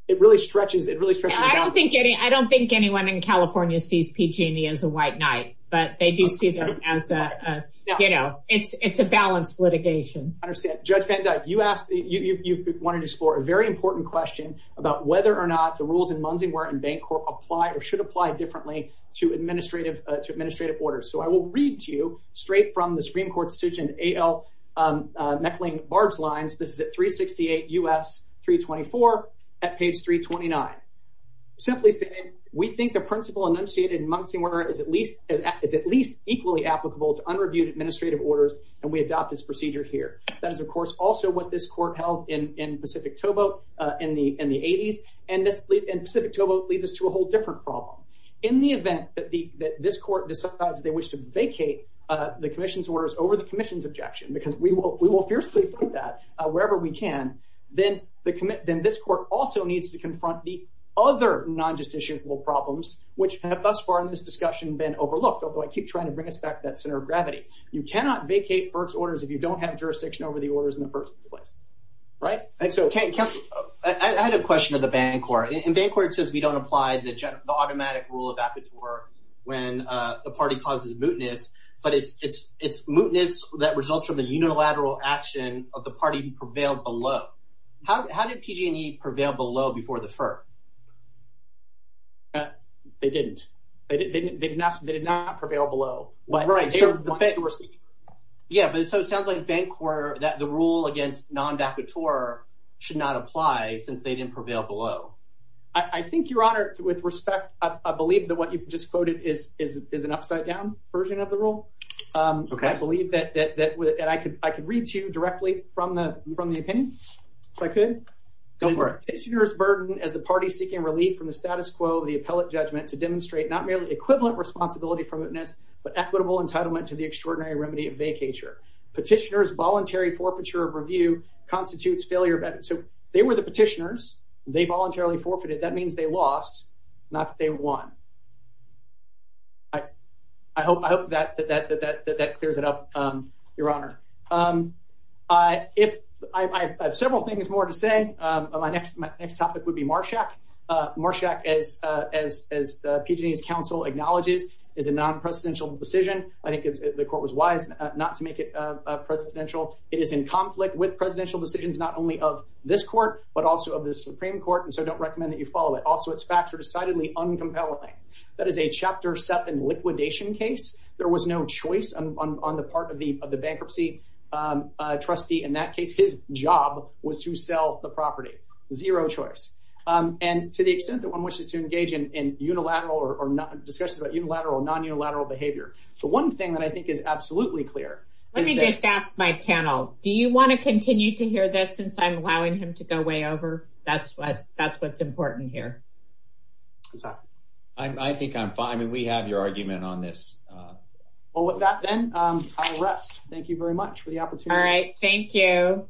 it really stretches it really stretches i don't think any i don't think anyone in california sees pg&e as a white knight but they do see them as a you know it's it's a balanced litigation i understand judge van dyke you asked you you wanted to explore a very important question about whether or not the rules in munsing where in bank apply or should apply differently to administrative to administrative orders so i will read to you straight from the supreme court's decision al um meckling barge lines this is at 368 us 324 at page 329 simply saying we think the principle enunciated in munsing order is at least is at least equally applicable to unreviewed administrative orders and we adopt this procedure here that is of course also what this court held in in pacific tobo uh in the in the 80s and this lead and pacific tobo leads us to a whole different problem in the event that the that this court decides they wish to vacate uh the commission's orders over the commission's objection because we will we will fiercely put that wherever we can then the commit then this court also needs to confront the other non-justiciable problems which have thus far in this discussion been overlooked although i keep trying to bring us back to that center of gravity you cannot vacate first orders if you don't have jurisdiction over the orders in the first place right that's okay council i had a bank or in bank where it says we don't apply the the automatic rule of vacateur when uh the party causes mootness but it's it's it's mootness that results from the unilateral action of the party who prevailed below how did pg&e prevail below before the firm they didn't they didn't they did not they did not prevail below but right yeah but so it sounds like bank quarter that the rule against non-vacateur should not apply since they didn't prevail below i i think your honor with respect i believe that what you just quoted is is is an upside down version of the rule um okay i believe that that that that i could i could read to you directly from the from the opinion if i could go for it petitioner's burden as the party seeking relief from the status quo the appellate judgment to demonstrate not merely equivalent responsibility for mootness but equitable entitlement to the constitutes failure so they were the petitioners they voluntarily forfeited that means they lost not that they won i i hope i hope that that that that that that clears it up um your honor um i if i i have several things more to say um my next my next topic would be marshak uh marshak as uh as as pg&e's council acknowledges is a non-presidential decision i think the court was wise not to make a presidential it is in conflict with presidential decisions not only of this court but also of the supreme court and so i don't recommend that you follow it also its facts are decidedly uncompelling that is a chapter 7 liquidation case there was no choice on on the part of the of the bankruptcy um uh trustee in that case his job was to sell the property zero choice um and to the extent that one wishes to engage in in unilateral or not discussions about unilateral or non-unilateral behavior the one thing that i think is absolutely clear let me just ask my panel do you want to continue to hear this since i'm allowing him to go way over that's what that's what's important here i think i'm fine i mean we have your argument on this well with that then um i'll rest thank you very much for the opportunity all right thank you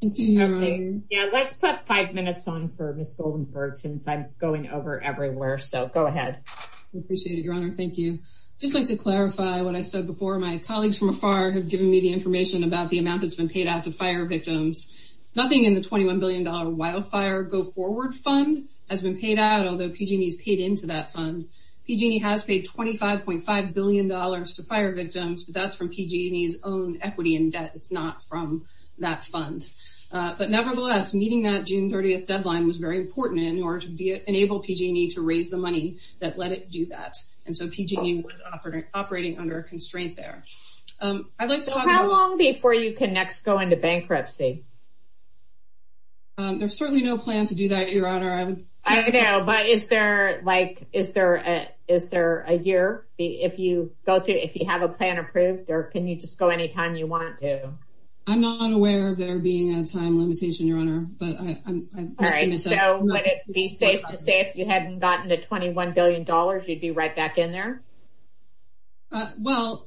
thank you yeah let's put five minutes on for miss goldenberg since i'm going over everywhere so go ahead we appreciate it your honor thank you just like to clarify what i said before my colleagues from afar have given me the information about the amount that's been paid out to fire victims nothing in the 21 billion dollar wildfire go forward fund has been paid out although pg&e's paid into that fund pg&e has paid 25.5 billion dollars to fire victims but that's from pg&e's equity in debt it's not from that fund but nevertheless meeting that june 30th deadline was very important in order to be enable pg&e to raise the money that let it do that and so pg&e was operating operating under a constraint there um i'd like to talk how long before you can next go into bankruptcy um there's certainly no plan to do that your honor i don't know but is there like is there a is there a year if you go to if you have a plan approved or can you just go anytime you want to i'm not aware of there being a time limitation your honor but i'm all right so would it be safe to say if you hadn't gotten the 21 billion dollars you'd be right back in there well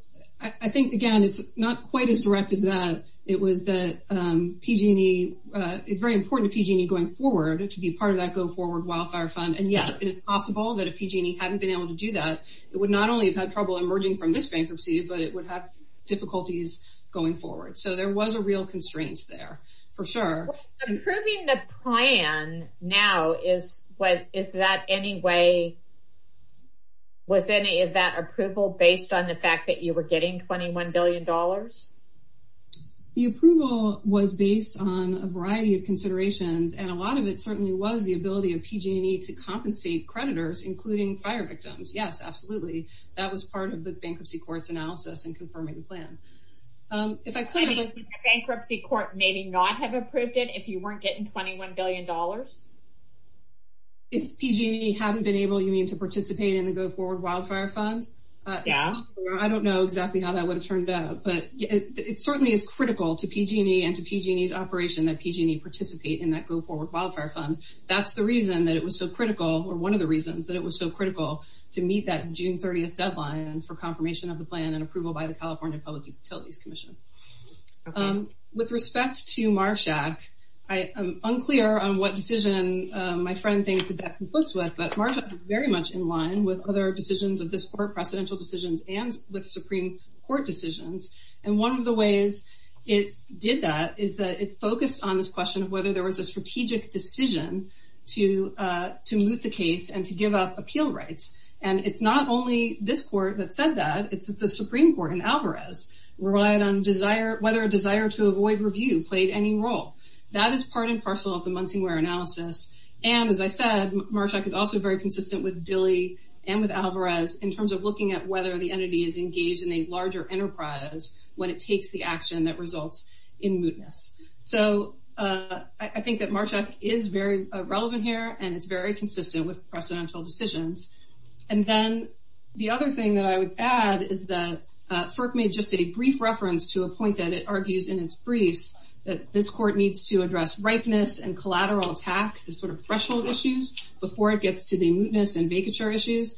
i think again it's not quite as direct as that it was the um pg&e uh it's very important going forward to be part of that go forward wildfire fund and yes it is possible that if pg&e hadn't been able to do that it would not only have had trouble emerging from this bankruptcy but it would have difficulties going forward so there was a real constraints there for sure improving the plan now is what is that any way was any of that approval based on the fact that you were and a lot of it certainly was the ability of pg&e to compensate creditors including fire victims yes absolutely that was part of the bankruptcy court's analysis and confirming the plan um if i could bankruptcy court maybe not have approved it if you weren't getting 21 billion if pg&e hadn't been able you mean to participate in the go forward wildfire fund yeah i don't know exactly how that would have turned out but it certainly is critical to pg&e operation that pg&e participate in that go forward wildfire fund that's the reason that it was so critical or one of the reasons that it was so critical to meet that june 30th deadline for confirmation of the plan and approval by the california public utilities commission with respect to marshak i am unclear on what decision my friend thinks that that conflicts with but marsha is very much in line with other decisions of this court precedential decisions and with supreme court decisions and one of the ways it did that is that it focused on this question of whether there was a strategic decision to uh to moot the case and to give up appeal rights and it's not only this court that said that it's the supreme court in alvarez relied on desire whether a desire to avoid review played any role that is part and parcel of the muncie ware analysis and as i said marshak is also very consistent with dilly and with alvarez in terms of looking at whether the entity is engaged in a larger enterprise when it takes the action that results in mootness so uh i think that marshak is very relevant here and it's very consistent with precedential decisions and then the other thing that i would add is that uh firk made just a brief reference to a point that it argues in its briefs that this court needs to address ripeness and collateral attack the sort of threshold issues before it gets to the mootness and vacature issues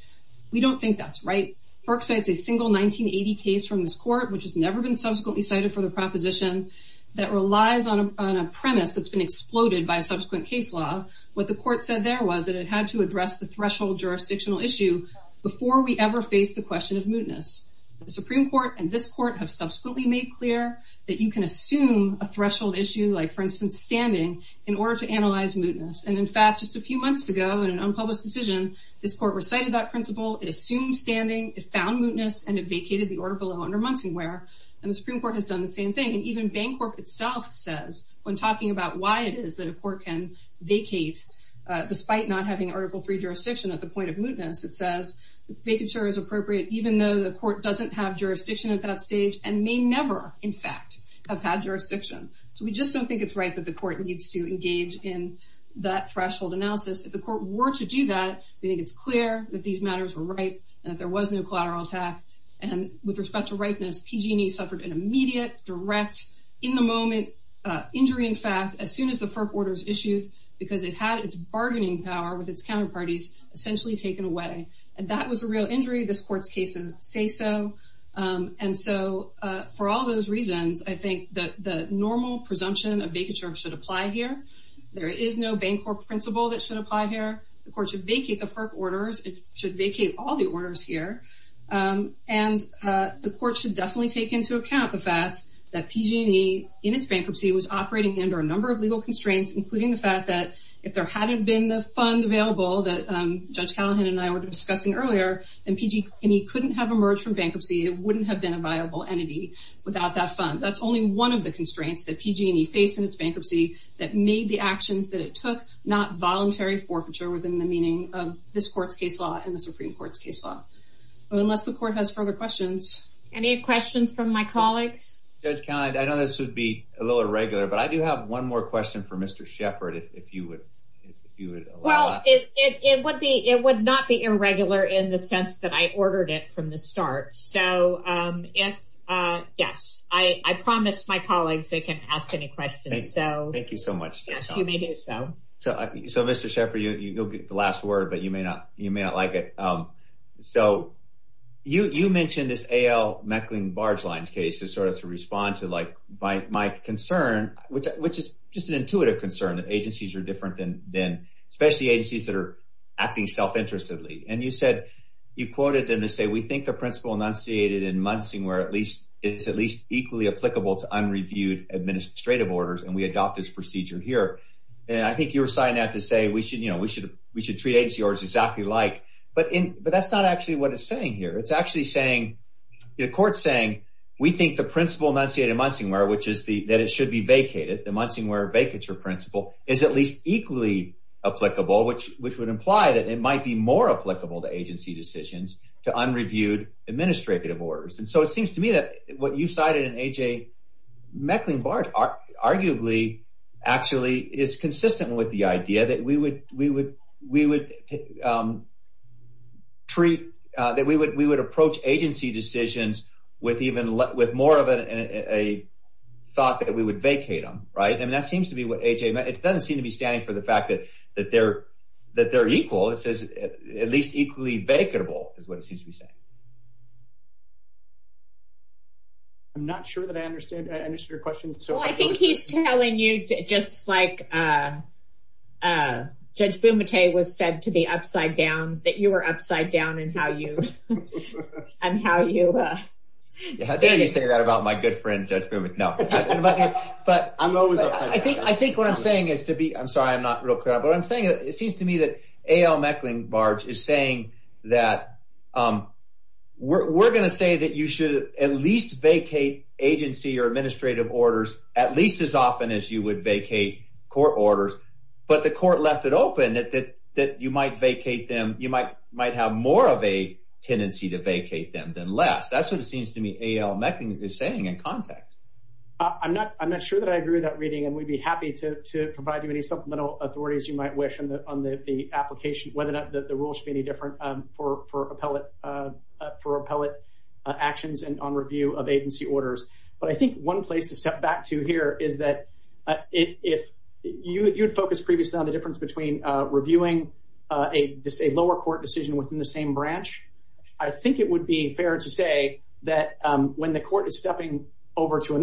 we don't think that's right perks it's a single 1980 case from this court which has never been subsequently cited for the proposition that relies on a premise that's been exploded by a subsequent case law what the court said there was that it had to address the threshold jurisdictional issue before we ever faced the question of mootness the supreme court and this court have subsequently made clear that you can assume a threshold issue like for instance standing in order to analyze mootness and in fact just a few months ago in an unpublished decision this court recited that principle it assumed standing it found mootness and it vacated the order below under monting where and the supreme court has done the same thing and even bank corp itself says when talking about why it is that a court can vacate uh despite not having article 3 jurisdiction at the point of mootness it says vacature is appropriate even though the court doesn't have jurisdiction at that stage and may never in fact have had jurisdiction so we just don't think it's right that the court needs to engage in that threshold analysis if the court were to do that we think it's clear that these matters were right and that there was no collateral attack and with respect to ripeness pg&e suffered an immediate direct in the moment uh injury in fact as soon as the perp orders issued because it had its bargaining power with its counterparties essentially taken away and that was a real injury this court's cases say so um and so uh for all those reasons i think that the normal presumption of vacature should apply here there is no bank or principle that should apply here the court should vacate the perp orders it should vacate all the orders here um and uh the court should definitely take into account the fact that pg&e in its bankruptcy was operating under a number of legal constraints including the fact that if there hadn't been the fund available that um judge callahan and i were discussing earlier and pg&e couldn't have emerged from bankruptcy it wouldn't have been a viable entity without that fund that's only one of the forfeiture within the meaning of this court's case law in the supreme court's case law unless the court has further questions any questions from my colleagues judge kind i know this would be a little irregular but i do have one more question for mr shepard if you would if you would well it it would be it would not be irregular in the sense that i ordered it from the start so um if uh yes i i promised my colleagues they can ask any questions so thank you so much yes you may do so so so mr shepard you you'll get the last word but you may not you may not like it um so you you mentioned this al meckling barge lines case to sort of to respond to like by my concern which which is just an intuitive concern that agencies are different than then especially agencies that are acting self-interestedly and you said you quoted them to say we think the principle enunciated in munsing where at least it's at least equally applicable to unreviewed administrative orders and we adopt this procedure here and i think you were signing out to say we should you know we should we should treat agency orders exactly like but in but that's not actually what it's saying here it's actually saying the court's saying we think the principle enunciated munsing where which is the that it should be vacated the munsing where vacature principle is at least equally applicable which which would imply that it might be more applicable to agency decisions to unreviewed administrative orders and so it seems to me that what you cited in aj meckling barge arguably actually is consistent with the idea that we would we would we would um treat uh that we would we would approach agency decisions with even with more of a a thought that we would vacate them right and that seems to be what aj it doesn't seem to be standing for the fact that that they're that they're equal it says at least equally vacatable is what it seems to be saying i'm not sure that i understand i understood your question so i think he's telling you just like uh uh judge bumate was said to be upside down that you were upside down and how you and how you uh how dare you say that about my good friend judge no but but i'm always i think i think what i'm saying is to be i'm sorry i'm not real clear but i'm saying it seems to me that barge is saying that um we're going to say that you should at least vacate agency or administrative orders at least as often as you would vacate court orders but the court left it open that that that you might vacate them you might might have more of a tendency to vacate them than less that's what it seems to me al meckling is saying in context i'm not i'm not sure that i agree with that reading and we'd be happy to to provide you any supplemental authorities you might wish on the application whether or not the rule should be any different um for for appellate uh for appellate actions and on review of agency orders but i think one place to step back to here is that if you you'd focus previously on the difference between uh reviewing uh a lower court decision within the same branch i think it would be fair to say that um when the court is stepping over to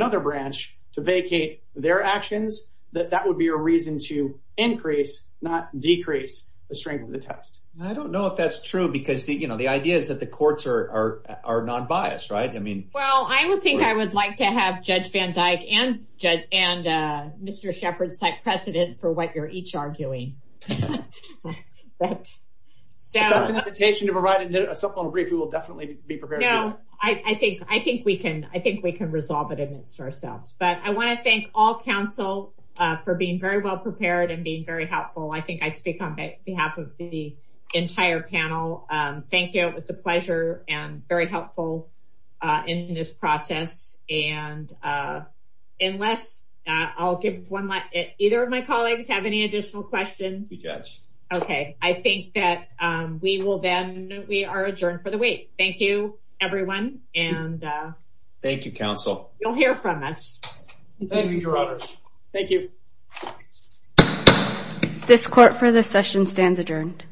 the test i don't know if that's true because the you know the idea is that the courts are are are non-biased right i mean well i would think i would like to have judge van dyke and judge and uh mr shepherd's site precedent for what you're each arguing so that's an invitation to provide a supplemental brief we will definitely be prepared no i i think i think we can i think we can resolve it amidst ourselves but i want to thank all council uh for being very well prepared and being very helpful i think i speak on behalf of the entire panel um thank you it was a pleasure and very helpful uh in this process and uh unless uh i'll give one let either of my colleagues have any additional questions you judge okay i think that um we will then we are adjourned for the week thank you everyone and uh thank you council you'll hear from us thank you your honors thank you this court for this session stands adjourned